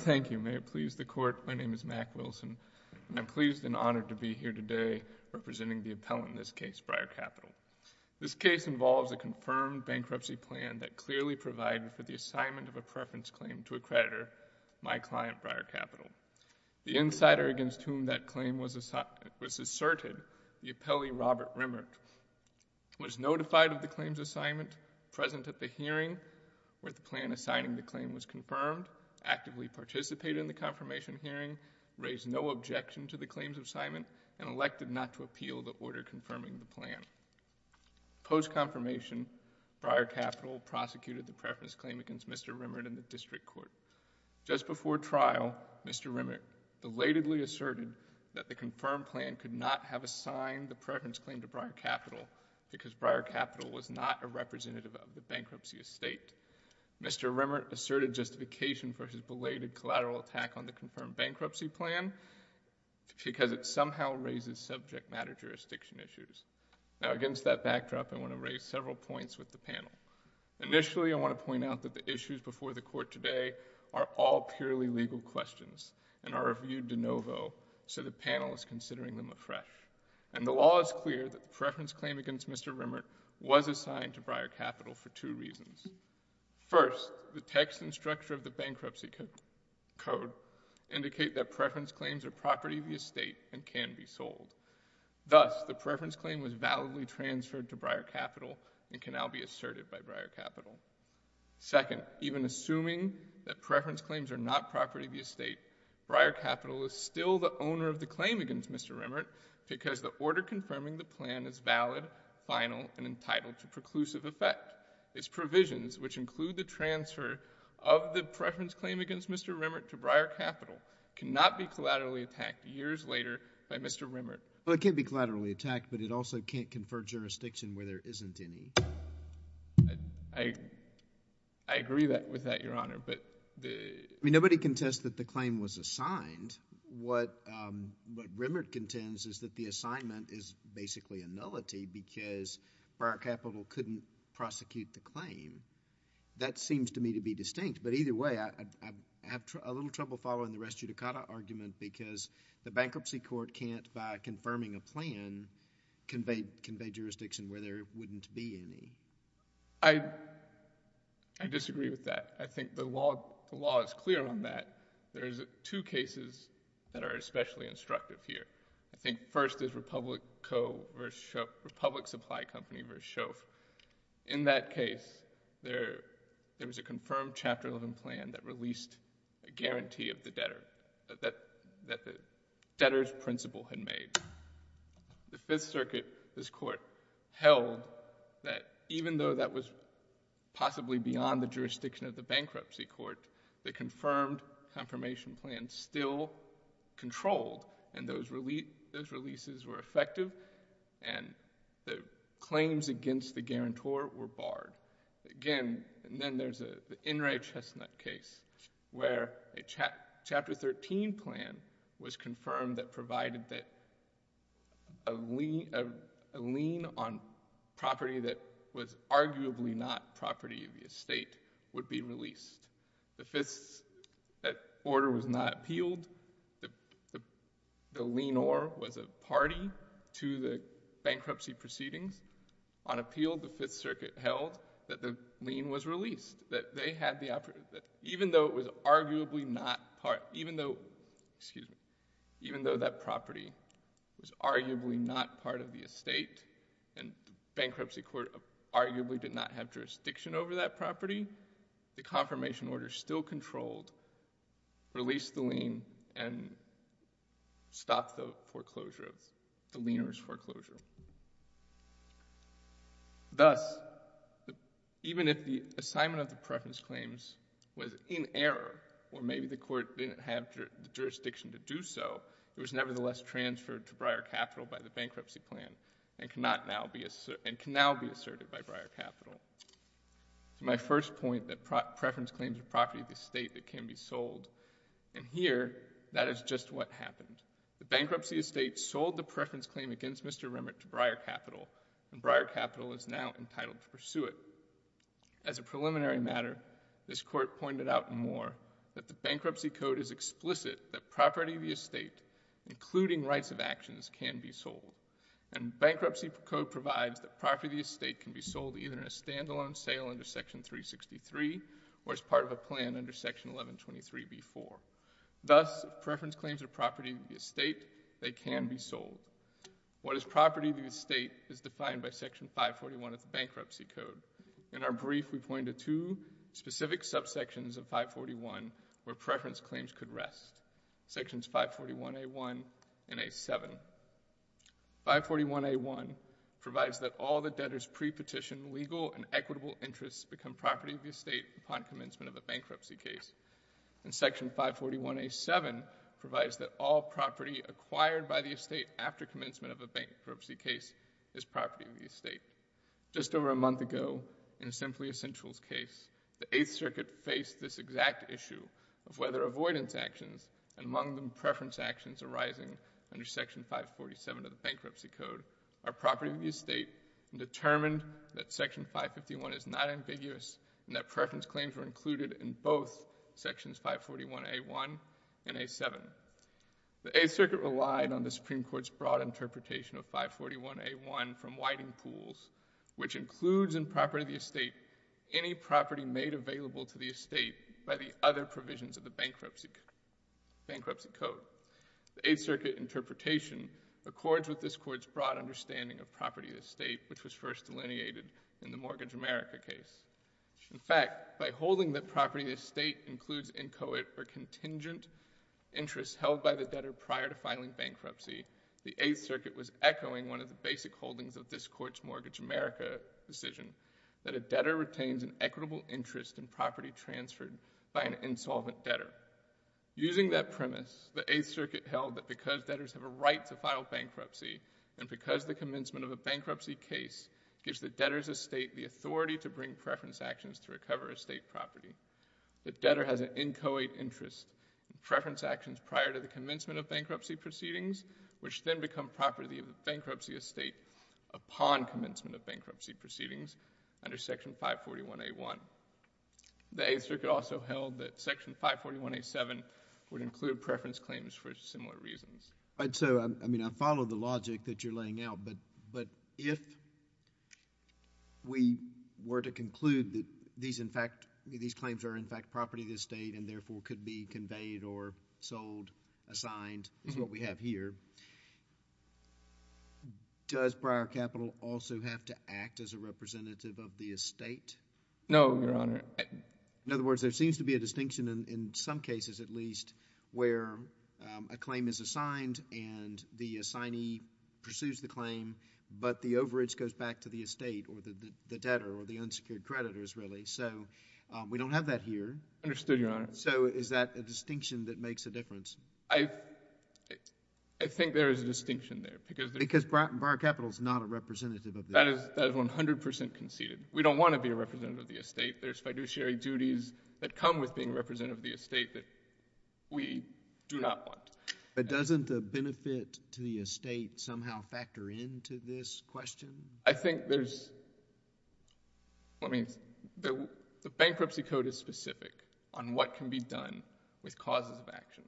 Thank you. May it please the Court, my name is Mack Wilson and I'm pleased and honored to be here today representing the appellant in this case, Briar Capital. This case involves a confirmed bankruptcy plan that clearly provided for the assignment of a preference claim to a creditor, my client, Briar Capital. The insider against whom that claim was asserted, the appellee Robert Remmert, was notified of the claim's assignment, present at the confirmation hearing, raised no objection to the claim's assignment, and elected not to appeal the order confirming the plan. Post-confirmation, Briar Capital prosecuted the preference claim against Mr. Remmert in the District Court. Just before trial, Mr. Remmert belatedly asserted that the confirmed plan could not have assigned the preference claim to Briar Capital because Briar Capital was not a representative of the bankruptcy estate. Mr. Remmert asserted the justification for his belated collateral attack on the confirmed bankruptcy plan because it somehow raises subject matter jurisdiction issues. Now, against that backdrop, I want to raise several points with the panel. Initially, I want to point out that the issues before the Court today are all purely legal questions and are reviewed de novo, so the panel is considering them afresh. And the law is clear that the preference claim against Mr. Remmert was assigned to Briar Capital for two reasons. First, the text and structure of the bankruptcy code indicate that preference claims are property of the estate and can be sold. Thus, the preference claim was validly transferred to Briar Capital and can now be asserted by Briar Capital. Second, even assuming that preference claims are not property of the estate, Briar Capital is still the owner of the claim against Mr. Remmert because the order confirming the plan is valid, final, and entitled to preclusive effect. Its provisions, which include the transfer of the preference claim against Mr. Remmert to Briar Capital, cannot be collaterally attacked years later by Mr. Remmert. Well, it can't be collaterally attacked, but it also can't confer jurisdiction where there isn't any. I agree with that, Your Honor, but the— I mean, nobody contends that the claim was assigned. What Remmert contends is that the claim is valid because Briar Capital couldn't prosecute the claim. That seems to me to be distinct, but either way, I have a little trouble following the Res Judicata argument because the bankruptcy court can't, by confirming a plan, convey jurisdiction where there wouldn't be any. I disagree with that. I think the law is clear on that. There's two cases that are especially instructive here. I think first is Republic Co. v. Shoeff—Republic Supply Company v. Shoeff. In that case, there was a confirmed Chapter 11 plan that released a guarantee of the debtor, that the debtor's principle had made. The Fifth Circuit, this Court, held that even though that was possibly beyond the jurisdiction of the bankruptcy court, the confirmed confirmation plan still controlled, and those releases were effective, and the claims against the guarantor were barred. Again, then there's the Inouye-Chestnut case where a Chapter 13 plan was confirmed that provided that a lien on property that was arguably not property of the estate would be released. The Fifth—that order was not appealed. The lienor was a party to the bankruptcy proceedings. On appeal, the Fifth Circuit held that the lien was released, that they had the—even though it was arguably not part—even though—excuse me—even though that property was arguably not part of the estate and the bankruptcy court arguably did not have jurisdiction over that property, the confirmation order still controlled, released the lien, and stopped the foreclosure of—the lienor's foreclosure. Thus, even if the assignment of the preference claims was in error, or maybe the court didn't have the jurisdiction to do so, it was nevertheless transferred to Breyer Capital by the bankruptcy plan and cannot now be—and can now be asserted by Breyer Capital. To my first point that preference claims are property of the estate that can be sold, and here, that is just what happened. The bankruptcy estate sold the preference claim against Mr. Remit to Breyer Capital, and Breyer Capital is now entitled to pursue it. As a preliminary matter, this Court pointed out more that the bankruptcy code is explicit that property of the estate, including rights of actions, can be sold, and bankruptcy code provides that property of the estate can be sold either in a standalone sale under Section 363 or as part of a plan under Section 1123b-4. Thus, if preference claims are property of the estate, they can be sold. What is property of the estate is defined by Section 541 of the bankruptcy code. In our brief, we point to two specific subsections of 541 where preference claims could rest, Sections 541a-1 and a-7. 541a-1 provides that all the debtor's pre-petition legal and equitable interests become property of the estate upon commencement of a bankruptcy case, and Section 541a-7 provides that all property acquired by the estate after commencement of a bankruptcy case is property of the estate. Just over a month ago, in a Simply Essentials case, the Eighth Circuit faced this exact issue of whether avoidance actions, among them preference actions arising under Section 547 of the bankruptcy code, are property of the estate and determined that Section 551 is not ambiguous and that preference claims were included in both Sections 541a-1 and a-7. The Eighth Circuit relied on the Supreme Court's broad interpretation of 541a-1 from Whitingpools, which includes in property of the estate by the other provisions of the bankruptcy code. The Eighth Circuit interpretation accords with this Court's broad understanding of property of the estate, which was first delineated in the Mortgage America case. In fact, by holding that property of the estate includes inchoate or contingent interests held by the debtor prior to filing bankruptcy, the Eighth Circuit was echoing one of the basic holdings of this Court's Mortgage America decision, that a debtor retains an equitable interest in property transferred by an insolvent debtor. Using that premise, the Eighth Circuit held that because debtors have a right to file bankruptcy and because the commencement of a bankruptcy case gives the debtor's estate the authority to bring preference actions to recover estate property, the debtor has an inchoate interest in preference actions prior to the commencement of bankruptcy proceedings, which then become property of the bankruptcy estate upon commencement of bankruptcy proceedings under Section 541a-1. The Eighth Circuit also held that Section 541a-7 would include preference claims for similar reasons. All right. So, I mean, I follow the logic that you're laying out, but if we were to conclude that these, in fact, these claims are, in fact, property of the estate and therefore could be conveyed or sold, assigned, is what we have here, does prior capital also have to act as a representative of the estate? No, Your Honor. In other words, there seems to be a distinction in some cases, at least, where a claim is assigned and the assignee pursues the claim, but the overage goes back to the estate or the debtor or the unsecured creditors, really. So, we don't have that here. Understood, Your Honor. So, is that a distinction that makes a difference? I think there is a distinction there, because— Because prior capital is not a representative of the estate. That is 100 percent conceded. We don't want to be a representative of the estate. There's fiduciary duties that come with being a representative of the estate that we do not want. But doesn't the benefit to the estate somehow factor into this question? I think there's—I mean, the bankruptcy code is specific on what can be done with causes of action.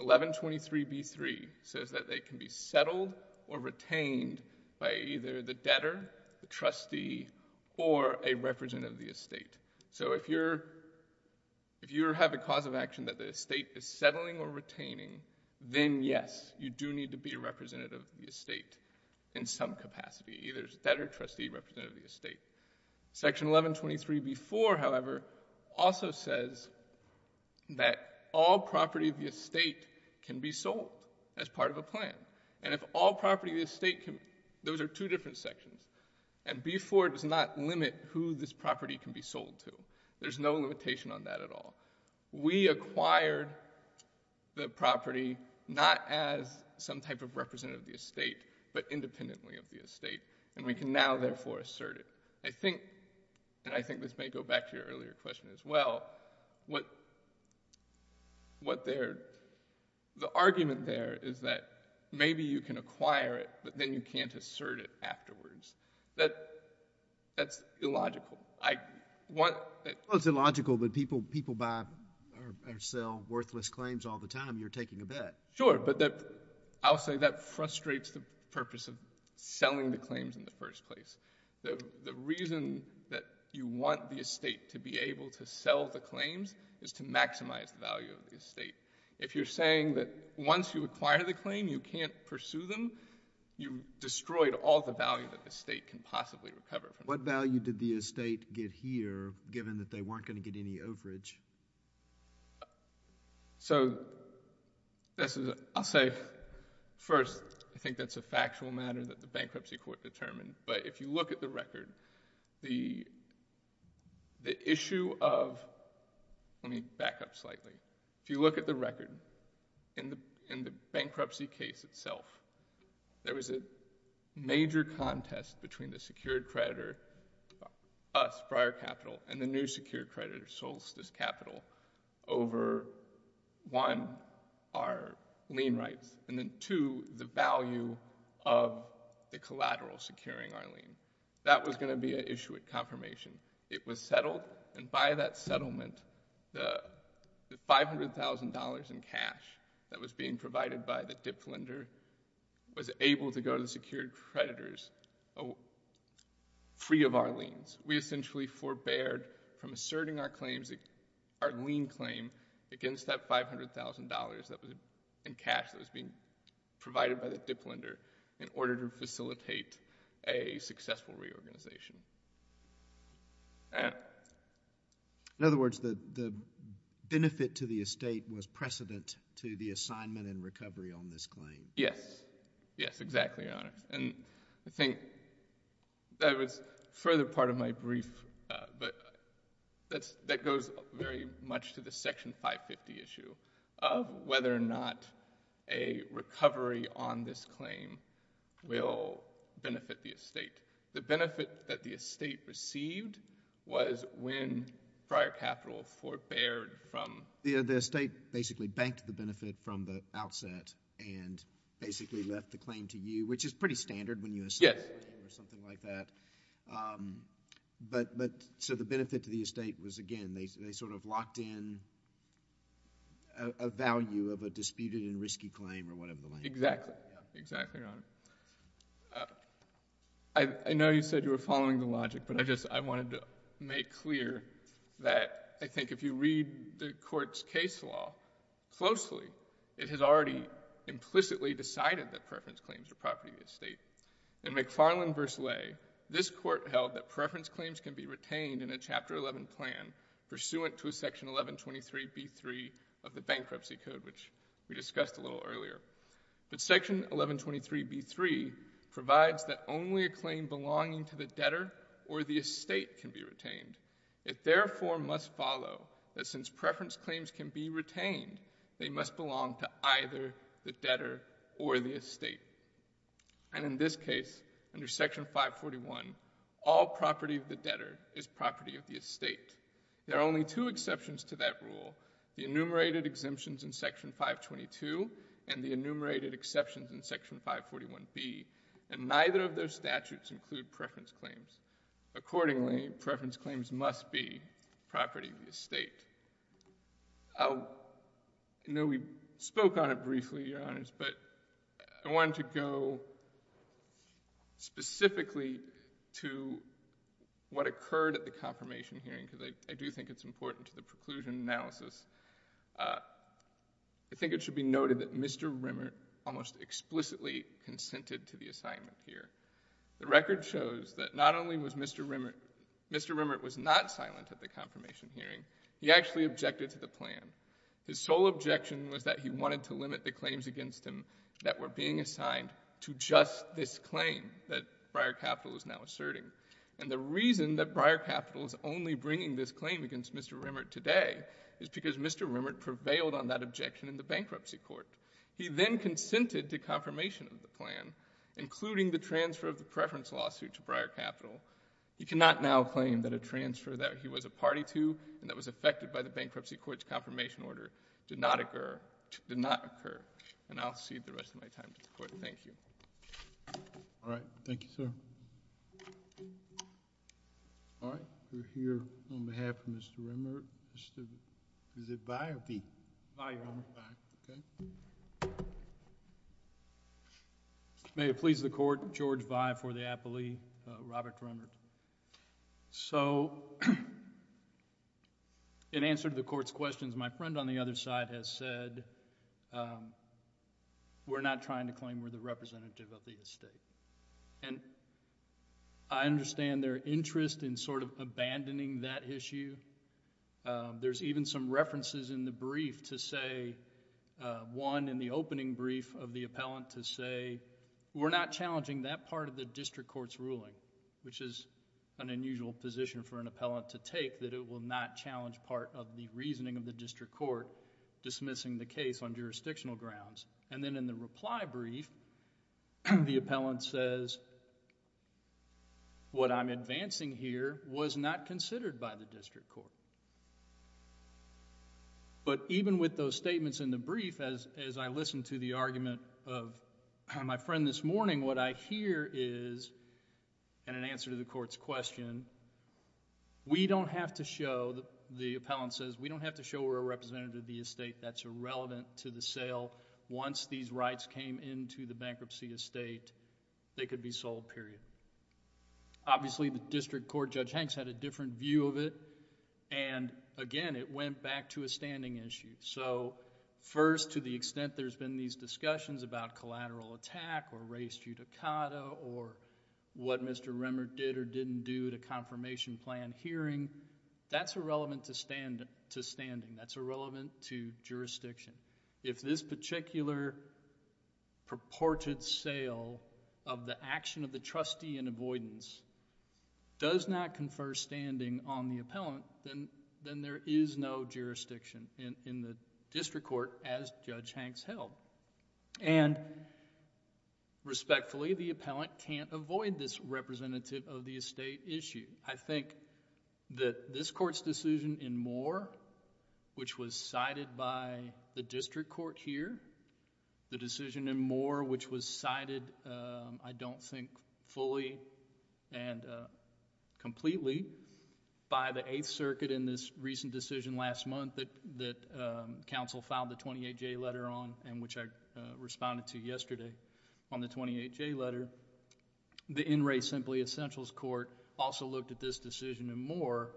1123b3 says that they can be settled or retained by either the debtor, the trustee, or a representative of the estate. So, if you have a cause of action that the estate is settling or retaining, then yes, you do need to be a representative of the estate or a debtor, trustee, representative of the estate. Section 1123b4, however, also says that all property of the estate can be sold as part of a plan. And if all property of the estate can—those are two different sections. And b4 does not limit who this property can be sold to. There's no limitation on that at all. We acquired the property not as some type of representative of the estate, but independently of the estate. And we can now, therefore, assert it. I think—and I think this may go back to your earlier question as well—what they're—the argument there is that maybe you can acquire it, but then you can't assert it afterwards. That's illogical. I want— Well, it's illogical, but people buy or sell worthless claims all the time. You're taking a bet. Sure, but that—I'll say that frustrates the purpose of selling the claims in the first place. The reason that you want the estate to be able to sell the claims is to maximize the value of the estate. If you're saying that once you acquire the claim, you can't pursue them, you've destroyed all the value that the estate can possibly recover from. What value did the estate get here, given that they weren't going to get any overage? So, this is—I'll say, first, I think that's a factual matter that the Bankruptcy Court determined, but if you look at the record, the issue of—let me back up slightly. If you look at the record, in the bankruptcy case itself, there was a major contest between the secured creditor, us, Friar Capital, and the new secured creditor, Solstice Capital, over, one, our lien rights, and then, two, the value of the collateral securing our lien. That was going to be an issue at confirmation. It was settled, and by that settlement, the $500,000 in cash that was being provided by the dip lender was able to go to the secured creditors, free of our liens. We essentially forbeared from asserting our lien claim against that $500,000 in cash that was being provided by the dip lender in order to facilitate a successful reorganization. In other words, the benefit to the estate was precedent to the assignment and recovery on this claim. Yes. Yes, exactly, Your Honor. I think that was a further part of my brief, but that goes very much to the Section 550 issue of whether or not a recovery on this claim will benefit the estate. The benefit that the estate received was when Friar Capital forbeared from— The estate basically banked the benefit from the outset and basically left the claim to you, which is pretty standard when you— Yes. —assign a claim or something like that. The benefit to the estate was, again, they sort of locked in a value of a disputed and risky claim or whatever the language is. Exactly. Exactly, Your Honor. I know you said you were following the logic, but I wanted to make clear that I think if you read the Court's case law closely, it has already implicitly decided that preference claims are property of the estate. In McFarland v. Lay, this Court held that preference claims can be retained in a Chapter 11 plan pursuant to a Section 1123b3 of the Bankruptcy Code, which we discussed a little earlier. But Section 1123b3 provides that only a claim belonging to the debtor or the estate can be retained. It therefore must follow that since preference claims can be retained, they must belong to either the debtor or the estate. And in this case, under Section 541, all property of the debtor is property of the estate. There are only two exceptions to that rule, the enumerated exemptions in Section 522 and the enumerated exceptions in Section 541b, and neither of those statutes include preference claims. Accordingly, preference claims must be property of the estate. I know we spoke on it briefly, Your Honors, but I wanted to go specifically to what occurred at the confirmation hearing, because I do think it's important to the preclusion analysis. I think it should be noted that Mr. Rimmert almost explicitly consented to the assignment here. The record shows that not only was Mr. Rimmert not silent at the confirmation hearing, he actually objected to the plan. His sole objection was that he wanted to limit the claims against him that were being assigned to just this claim that Breyer Capital is now asserting. And the reason that Breyer Capital is only bringing this claim against Mr. Rimmert today is because Mr. Rimmert prevailed on that objection in the Bankruptcy Court. He then consented to confirmation of the plan, including the transfer of the preference lawsuit to Breyer Capital. He cannot now claim that a transfer that he was a party to and that was affected by the Bankruptcy Court's confirmation order did not occur. And I'll cede the rest of my time to the Court. Thank you. All right. Thank you, sir. All right. We're here on behalf of Mr. Rimmert. Is it Vi or V? Vi, Your Honor. May it please the Court, George Vi for the appellee, Robert Rimmert. So, in answer to the Court's questions, my friend on the other side has said we're not trying to claim we're the representative of the estate. And I understand their interest in sort of abandoning that issue. There's even some references in the brief to say, one in the opening brief of the appellant to say, we're not challenging that part of the district court's ruling, which is an unusual position for an appellant to take, that it will not challenge part of the reasoning of the district court dismissing the case on my brief, the appellant says, what I'm advancing here was not considered by the district court. But even with those statements in the brief, as I listened to the argument of my friend this morning, what I hear is, in an answer to the Court's question, we don't have to show, the appellant says, we don't have to show we're a representative of the estate. That's irrelevant to the sale. Once these rights came into the bankruptcy estate, they could be sold, period. Obviously, the district court, Judge Hanks had a different view of it, and again, it went back to a standing issue. So, first, to the extent there's been these discussions about collateral attack or res judicata or what Mr. Rimmert did or didn't do to confirmation plan hearing, that's irrelevant to standing. That's irrelevant to jurisdiction. If this particular purported sale of the action of the trustee in avoidance does not confer standing on the appellant, then there is no jurisdiction in the district court as Judge Hanks held. Respectfully, the appellant can't avoid this representative of the estate issue. I think that this Court's decision in Moore, which was cited by the district court here, the decision in Moore, which was cited, I don't think fully and completely, by the Eighth District Court, which I responded to yesterday on the 28J letter, the In Re. Simply Essentials Court also looked at this decision in Moore.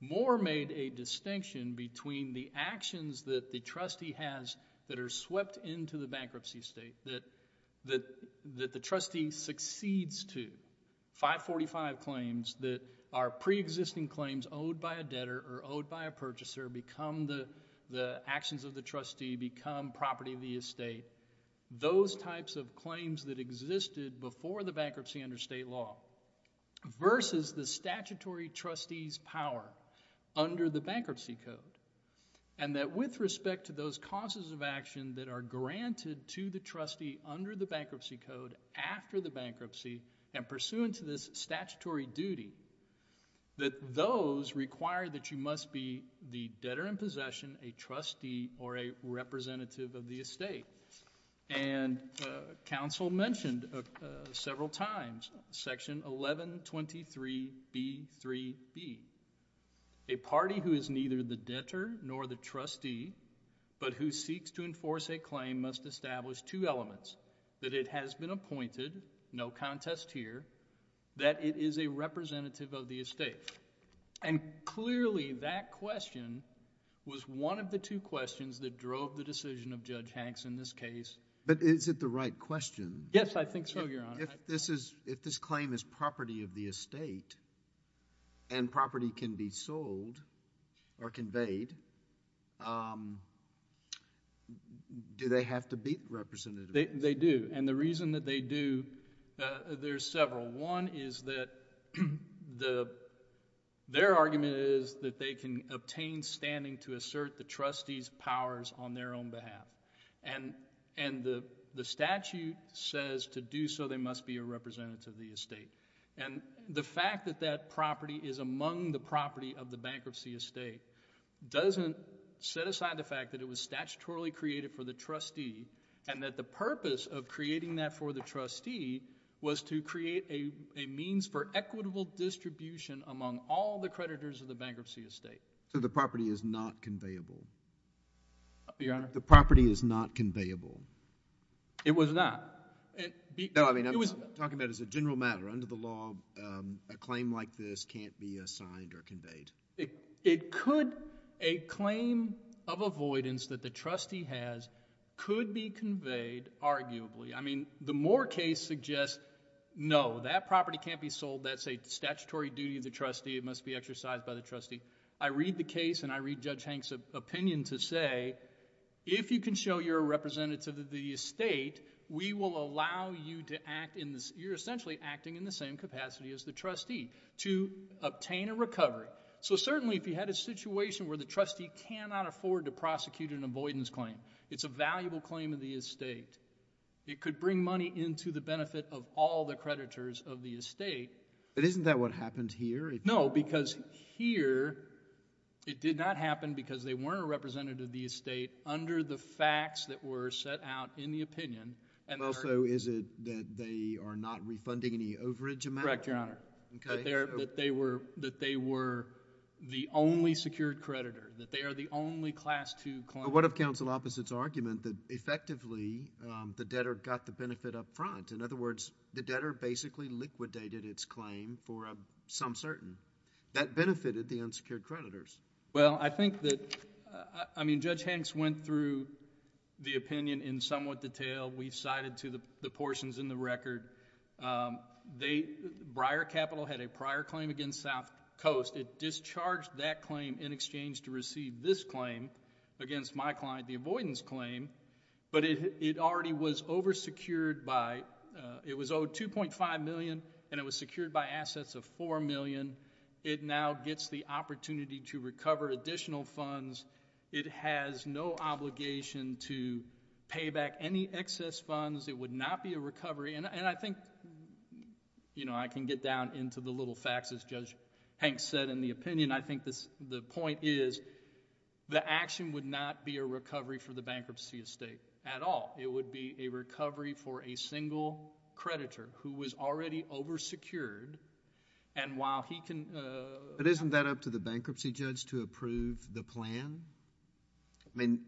Moore made a distinction between the actions that the trustee has that are swept into the bankruptcy estate that the trustee succeeds to. 545 claims that are pre-existing claims owed by a debtor or owed by a purchaser become the actions of the trustee become property of the estate. Those types of claims that existed before the bankruptcy under state law versus the statutory trustee's power under the Bankruptcy Code and that with respect to those causes of action that are granted to the trustee under the Bankruptcy Code after the bankruptcy and pursuant to this statutory duty, that those require that you must be the debtor in possession, a trustee, or a representative of the estate. And counsel mentioned several times Section 1123B3B, a party who is neither the debtor nor the trustee but who seeks to enforce a claim must establish two elements, that it has been appointed, no contest here, that it is a representative of the estate. And clearly that question was one of the two questions that drove the decision of Judge Hanks in this case. But is it the right question? Yes, I think so, Your Honor. If this claim is property of the estate and property can be sold or conveyed, do they have to be representatives? They do. And the reason that they do, there's several. One is that their argument is that they can obtain standing to assert the trustee's powers on their own behalf. And the statute says to do so they must be a representative of the estate. And the fact that that property is among the property of the bankruptcy estate doesn't set aside the fact that it was statutorily created for the trustee and that the purpose of creating that for the trustee was to create a means for equitable distribution among all the creditors of the bankruptcy estate. So the property is not conveyable? Your Honor? The property is not conveyable? It was not. No, I mean, I'm talking about as a general matter. Under the law, a claim like this can't be assigned or conveyed. It could. A claim of avoidance that the trustee has could be conveyed, arguably. I mean, the Moore case suggests, no, that property can't be sold. That's a statutory duty of the trustee. It must be exercised by the trustee. I read the case and I read Judge Hanks' opinion to say, if you can show you're a representative of the estate, we will allow you to act in the same capacity. You're essentially acting in the same capacity as the trustee to obtain a recovery. So certainly, if you had a situation where the trustee cannot afford to prosecute an avoidance claim, it's a valuable claim of the estate. It could bring money into the benefit of all the creditors of the estate. But isn't that what happened here? No, because here, it did not happen because they weren't a representative of the estate under the facts that were set out in the opinion. And also, is it that they are not refunding any overage amount? Correct, Your Honor. Okay. That they were the only secured creditor, that they are the only Class II claimant. But what of counsel opposite's argument that effectively, the debtor got the benefit up front? In other words, the debtor basically liquidated its claim for some certain. That benefited the unsecured creditors. Well, I think that... I just went through the opinion in somewhat detail. We cited the portions in the record. Breyer Capital had a prior claim against South Coast. It discharged that claim in exchange to receive this claim against my client, the avoidance claim. But it already was oversecured by... it was owed $2.5 million, and it was secured by assets of $4 million. It now gets the opportunity to recover additional funds. It has no obligation to pay back any excess funds. It would not be a recovery. And I think I can get down into the little facts, as Judge Hanks said in the opinion. I think the point is, the action would not be a recovery for the bankruptcy estate at all. It would be a recovery for a single creditor who was already oversecured, and while he can... But isn't that up to the bankruptcy judge to approve the plan? I mean,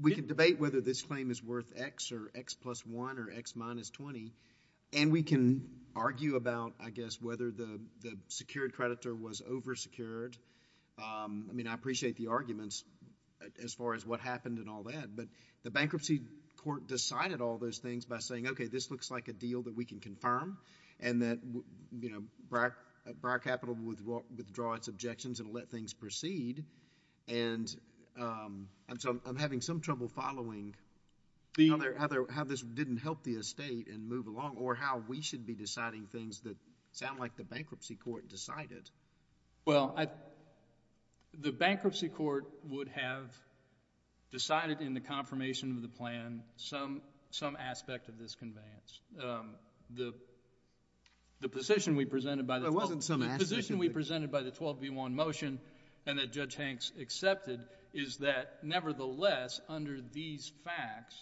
we can debate whether this claim is worth X or X plus 1 or X minus 20, and we can argue about, I guess, whether the secured creditor was oversecured. I mean, I appreciate the arguments as far as what happened and all that, but the bankruptcy court decided all those things by saying, okay, this looks like a deal that we can confirm and that, you know, Bar Capital will withdraw its objections and let things proceed, and so I'm having some trouble following how this didn't help the estate and move along or how we should be deciding things that sound like the bankruptcy court decided. Well, the bankruptcy court would have decided in the confirmation of the plan some aspect of this conveyance. The position we presented by the... There wasn't some aspect of it. The position we presented by the 12v1 motion and that Judge Hanks accepted is that, nevertheless, under these facts,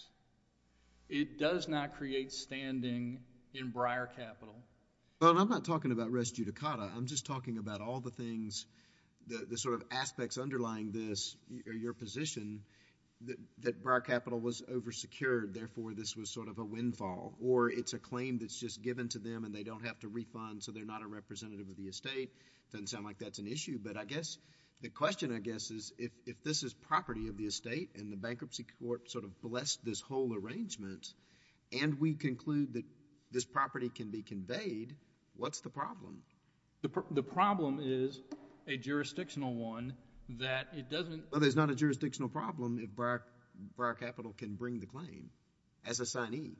it does not create standing in Breyer Capital. Well, I'm not talking about res judicata. I'm just talking about all the things, the sort of aspects underlying this, your position, that Breyer Capital was oversecured, therefore, this was sort of a windfall, or it's a claim that's just given to them and they don't have to refund, so they're not a representative of the estate. It doesn't sound like that's an issue, but I guess the question, I guess, is if this is property of the estate and the bankruptcy court sort of blessed this whole arrangement and we conclude that this property can be conveyed, what's the problem? The problem is a jurisdictional one that it doesn't... as a signee.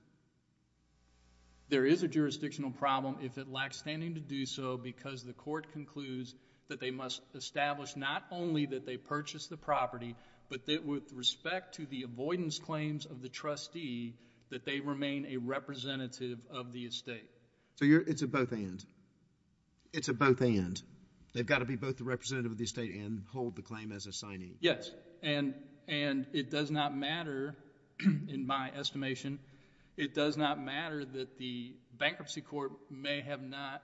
There is a jurisdictional problem if it lacks standing to do so because the court concludes that they must establish not only that they purchased the property, but that with respect to the avoidance claims of the trustee, that they remain a representative of the estate. So it's a both and. It's a both and. They've got to be both the representative of the estate and hold the claim as a signee. Yes, and it does not matter, in my estimation, it does not matter that the bankruptcy court may have not...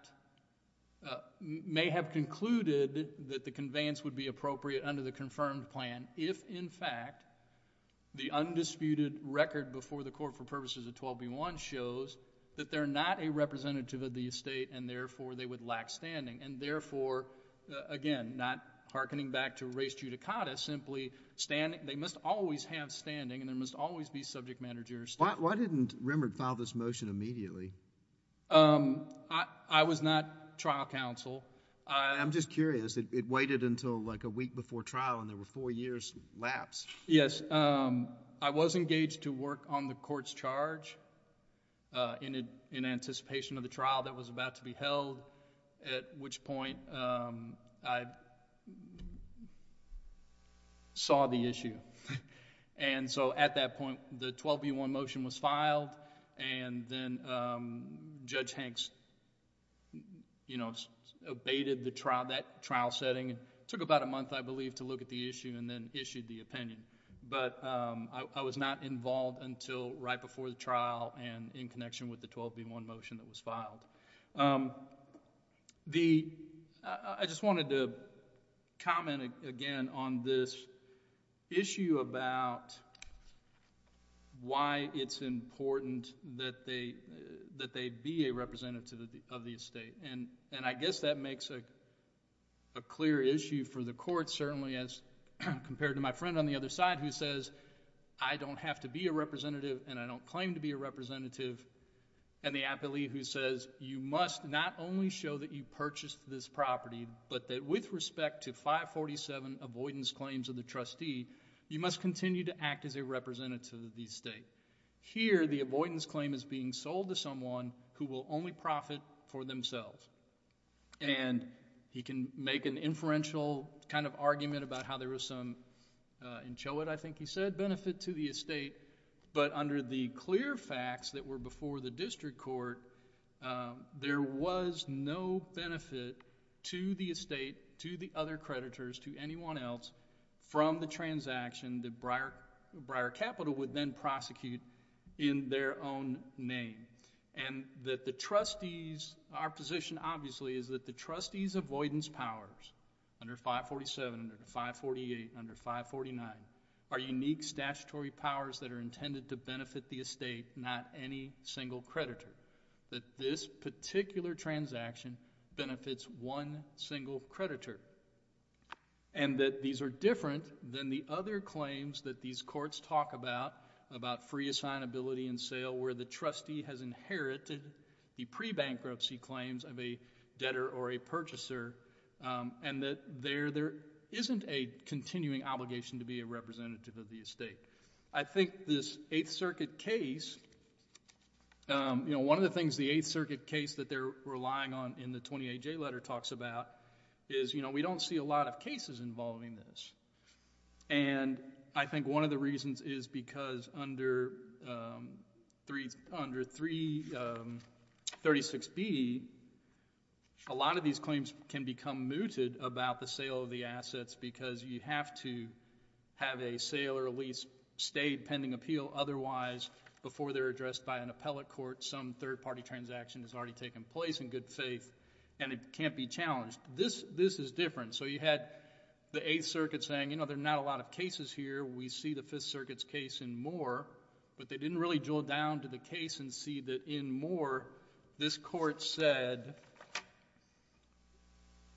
may have concluded that the conveyance would be appropriate under the confirmed plan if, in fact, the undisputed record before the court for purposes of 12B1 shows that they're not a representative of the estate and, therefore, they would lack standing and, therefore, again, not hearkening back to res judicata, simply standing... they must always have standing and there must always be subject managers. Why didn't Remert file this motion immediately? I was not trial counsel. I'm just curious. It waited until like a week before trial and there were four years lapse. Yes. I was engaged to work on the court's charge in anticipation of the trial that was about to be held at which point I saw the issue. At that point, the 12B1 motion was filed and then Judge Hanks abated that trial setting. It took about a month, I believe, to look at the issue and then issued the opinion. I was not involved until right before the trial and in connection with the 12B1 motion that was filed. I just wanted to comment again on this issue about why it's important that they be a representative of the estate and I guess that makes a clear issue for the court certainly as compared to my friend on the other side who says, I don't have to be a representative and I don't claim to be a representative, and the appellee who says, you must not only show that you purchased this property but that with respect to 547 avoidance claims of the trustee, you must continue to act as a representative of the estate. Here, the avoidance claim is being sold to someone who will only profit for themselves and he can make an inferential kind of argument about how there was some, in Choate I think he said, benefit to the estate but under the clear facts that were before the district court, there was no benefit to the estate, to the other creditors, to anyone else from the transaction that Briar Capital would then prosecute in their own name and that the trustees, our position obviously is that the trustees avoidance powers under 547, under 548, under 549 are unique statutory powers that are intended to benefit the estate, not any single creditor, that this particular transaction benefits one single creditor and that these are different than the other claims that these courts talk about, about free assignability and sale where the trustee has inherited the pre-bankruptcy claims of a debtor or a purchaser and that there isn't a continuing obligation to be a representative of the estate. I think this 8th Circuit case, one of the things the 8th Circuit case that they're relying on in the 28J letter talks about is we don't see a lot of cases involving this and I think one of the reasons is because under 336B, a lot of these claims can become mooted about the sale of the assets because you have to have a sale or a lease stay pending appeal otherwise, before they're addressed by an appellate court, some third party transaction has already taken place in good faith and it can't be challenged. This is different. So you had the 8th Circuit saying, you know, there are not a lot of cases here. We see the 5th Circuit's case in Moore, but they didn't really drill down to the case and see that in Moore, this court said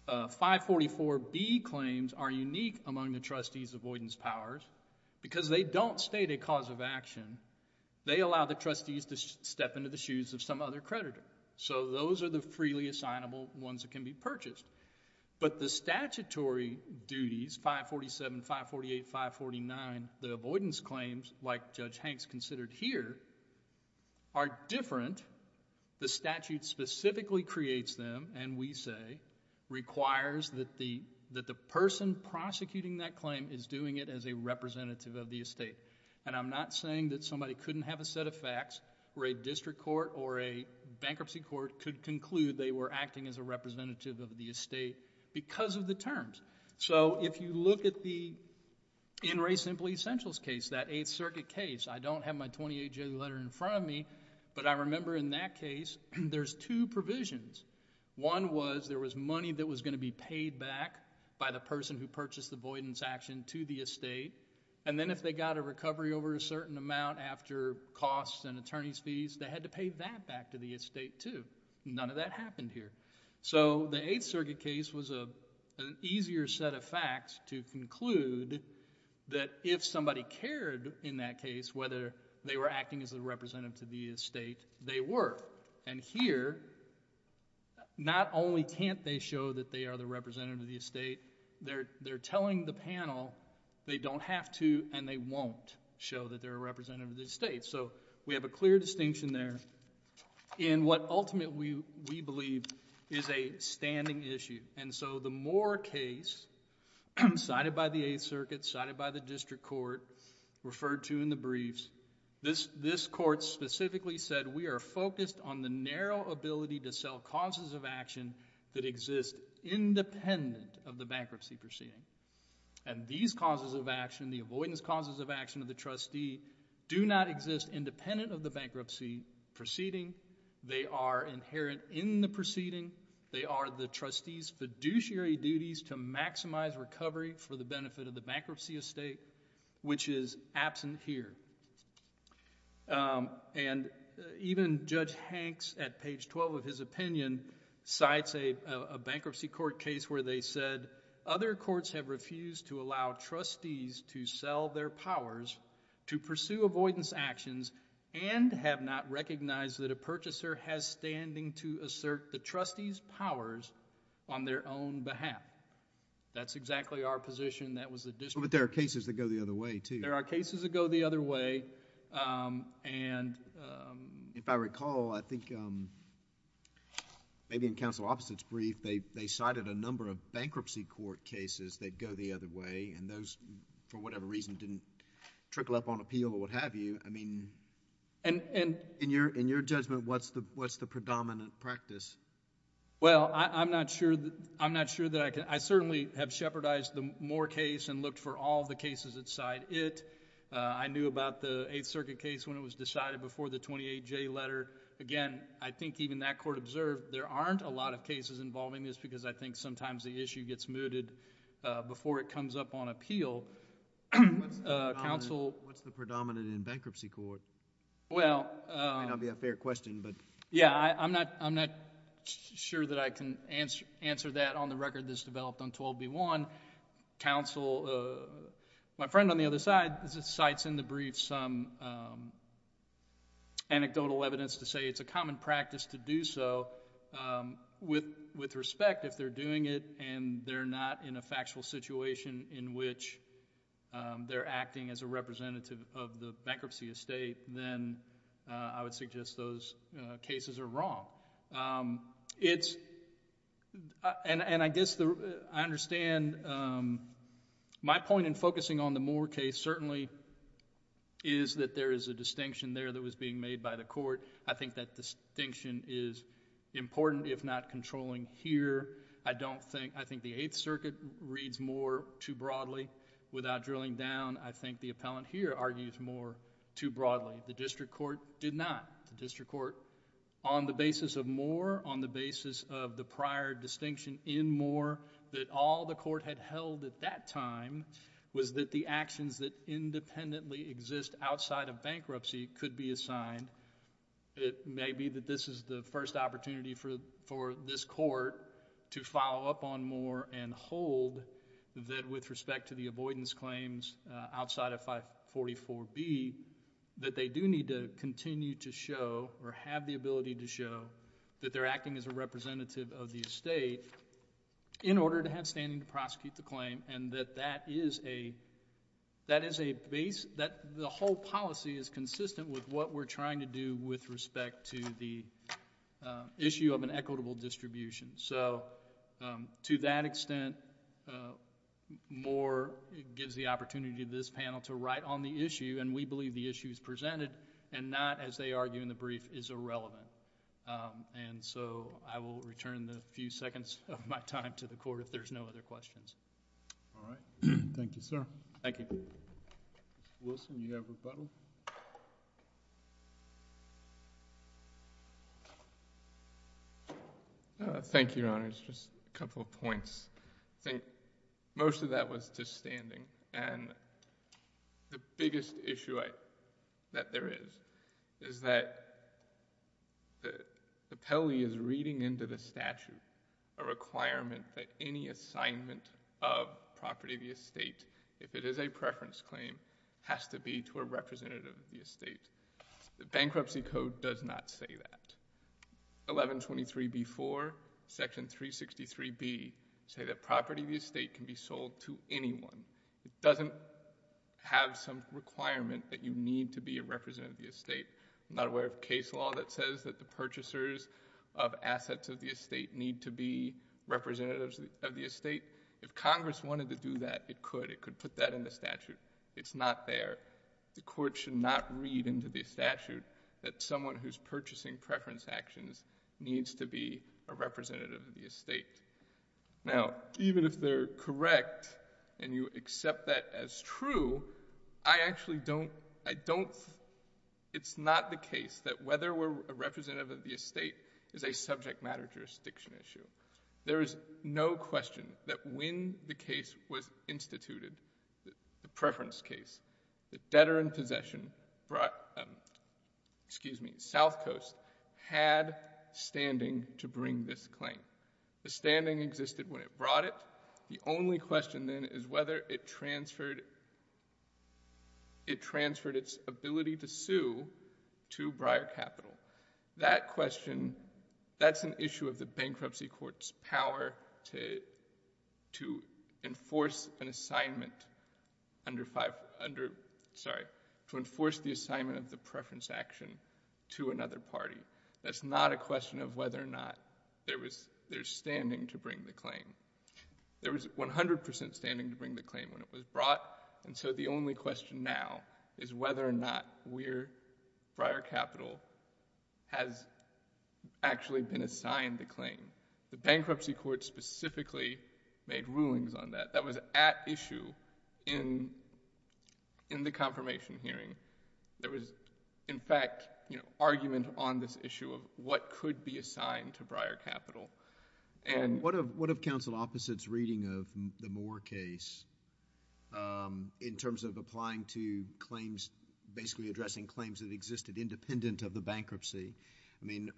544B claims are unique among the trustee's avoidance powers because they don't state a cause of action. They allow the trustees to step into the shoes of some other creditor. So those are the freely assignable ones that can be purchased. But the statutory duties, 547, 548, 549, the avoidance claims like Judge Hanks considered here are different. The statute specifically creates them and we say requires that the person prosecuting that claim is doing it as a representative of the estate. And I'm not saying that somebody couldn't have a set of facts where a district court or a bankruptcy court could conclude they were acting as a representative of the estate because of the terms. So if you look at the In Re Simple Essentials case, that 8th Circuit case, I don't have my 28-J letter in front of me, but I remember in that case there's two provisions. One was there was money that was going to be paid back by the person who purchased the avoidance action to the estate and then if they got a recovery over a certain amount after costs and attorney's fees, they had to pay that back to the estate too. None of that happened here. So the 8th Circuit case was an easier set of facts to conclude that if somebody cared in that case whether they were acting as a representative to the estate, they were. And here, not only can't they show that they are the representative of the estate, they're telling the panel they don't have to and they won't show that they're a representative of the estate. So we have a clear distinction there in what ultimately we believe is a standing issue. And so the Moore case cited by the 8th Circuit, cited by the district court, referred to in the briefs, this court specifically said we are focused on the narrow ability to sell causes of action that exist independent of the bankruptcy proceeding. And these causes of action, the avoidance causes of action of the trustee, do not exist independent of the bankruptcy proceeding. They are inherent in the proceeding. They are the trustee's fiduciary duties to maximize recovery for the benefit of the bankruptcy estate, which is absent here. And even Judge Hanks, at page 12 of his opinion, cites a bankruptcy court case where they said other courts have refused to allow trustees to sell their powers to pursue avoidance actions and have not recognized that a purchaser has standing to assert the trustee's powers on their own behalf. That's exactly our position. That was the district... But there are cases that go the other way, too. There are cases that go the other way. And... If I recall, I think maybe in Counsel Office's brief, they cited a number of bankruptcy court cases that go the other way, and those, for whatever reason, didn't trickle up on appeal or what have you. I mean... And... In your judgment, what's the predominant practice? Well, I'm not sure that I can... I certainly have shepherdized the Moore case and looked for all the cases that cite it. I knew about the Eighth Circuit case when it was decided before the 28J letter. Again, I think even that court observed there aren't a lot of cases involving this because I think sometimes the issue gets mooted before it comes up on appeal. Counsel... What's the predominant in bankruptcy court? Well... It may not be a fair question, but... Yeah, I'm not sure that I can answer that on the record that's developed on 12B1. Counsel... My friend on the other side cites in the brief some anecdotal evidence to say it's a common practice to do so with respect if they're doing it and they're not in a factual situation in which they're acting as a representative of the bankruptcy estate, then I would suggest those cases are wrong. It's... and I guess I understand my point in focusing on the Moore case certainly is that there is a distinction there that was being made by the court. I think that distinction is important if not controlling here. I don't think... I think the Eighth Circuit reads more too broadly. Without drilling down, I think the appellant here argues more too broadly. The district court did not. The district court on the basis of Moore, on the basis of the prior distinction in Moore that all the court had held at that time was that the actions that independently exist outside of bankruptcy could be assigned. It may be that this is the first opportunity for this court to follow up on Moore and hold that with respect to the avoidance claims outside of 544B that they do need to continue to show or have the ability to show that they're acting as a representative of the estate in order to have standing to prosecute the claim and that that is a base... that the whole policy is consistent with what we're trying to do with respect to the issue of an equitable distribution. To that extent, Moore gives the opportunity to this panel to write on the issue and we believe that what they argue in the brief is irrelevant. I will return in a few seconds of my time to the Court if there's no other questions. All right. Thank you, sir. Thank you. Mr. Wilson, do you have a rebuttal? Thank you, Your Honors. Just a couple of points. I think most of that was to standing and the biggest issue that there is, is that the Pele is reading into the statute a requirement that any assignment of property of the estate, if it is a preference claim, has to be to a representative of the estate. The Bankruptcy Code does not say that. 1123B.4, Section 363B, say that property of the estate can be sold to anyone. It doesn't have some requirement that you need to be a representative of the estate. I'm not aware of a case law that says that the purchasers of assets of the estate need to be representatives of the estate. If Congress wanted to do that, it could. It could put that in the statute. It's not there. The Court should not read into the statute that someone who's purchasing preference actions needs to be a representative of the estate. Now, even if they're correct and you accept that as true, I actually don't... I don't... It's not the case that whether we're a representative of the estate is a subject matter jurisdiction issue. There is no question that when the case was instituted, the preference case, the debtor-in-possession, excuse me, South Coast, had standing to bring this claim. The standing existed when it brought it. The only question then is whether it transferred its ability to sue to Briar Capital. That question, that's an issue of the bankruptcy court's power to enforce an assignment under... Sorry. To enforce the assignment of the preference action to another party. That's not a question of whether or not there's standing to bring the claim. There was 100% standing to bring the claim when it was brought, and so the only question now is whether or not Briar Capital has actually been assigned the claim. The bankruptcy court specifically made rulings on that. That was at issue in the confirmation hearing. There was, in fact, argument on this issue of what could be assigned to Briar Capital. What of counsel Opposite's reading of the Moore case in terms of applying to claims, basically addressing claims that existed independent of the bankruptcy? I mean,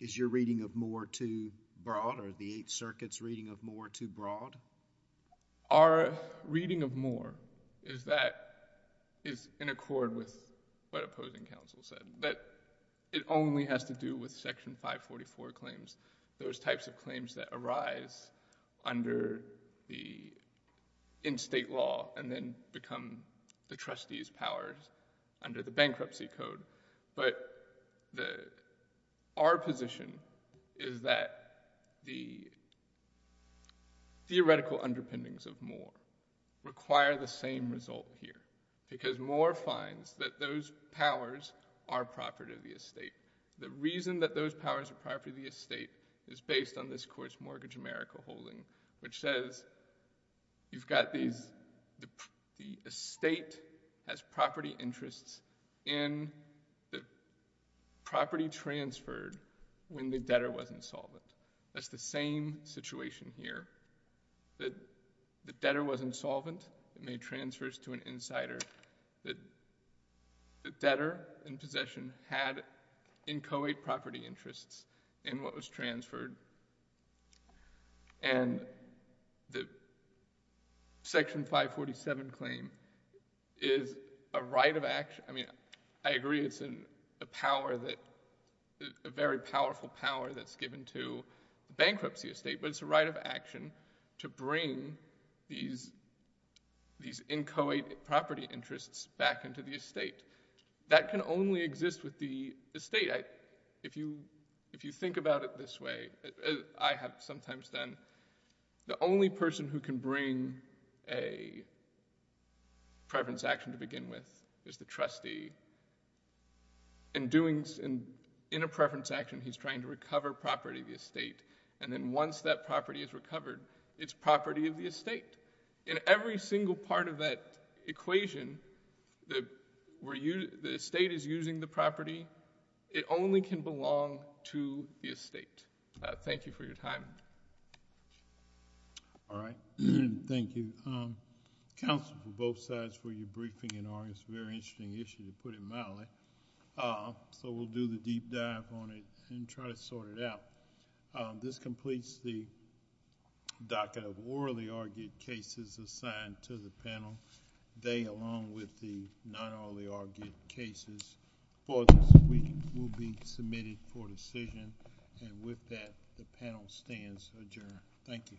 is your reading of Moore too broad, or the Eighth Circuit's reading of Moore too broad? Our reading of Moore is that it's in accord with what opposing counsel said, that it only has to do with Section 544 claims, those types of claims that arise under the in-state law and then become the trustee's powers under the bankruptcy code. But our position is that the theoretical underpinnings of Moore require the same result here, because Moore finds that those powers are property of the estate. The reason that those powers are property of the estate is based on this court's Mortgage America holding, which says you've got the estate as property interests in the property transferred when the debtor was insolvent. That's the same situation here. The debtor was insolvent. It made transfers to an insider. The debtor in possession had inchoate property interests in what was transferred. And the Section 547 claim is a right of action. I mean, I agree it's a very powerful power that's given to bankruptcy estate, but it's a right of action to bring these inchoate property interests back into the estate. That can only exist with the estate. If you think about it this way, I have sometimes done, the only person who can bring a preference action to begin with is the trustee. In a preference action, he's trying to recover property of the estate, and then once that property is recovered, it's property of the estate. In every single part of that equation where the estate is using the property, it only can belong to the estate. Thank you for your time. All right. Thank you. Counsel for both sides for your briefing in August. Very interesting issue, to put it mildly. So we'll do the deep dive on it and try to sort it out. This completes the docket of orally argued cases assigned to the panel. They, along with the not orally argued cases for this week, will be submitted for decision. And with that, the panel stands adjourned. Thank you.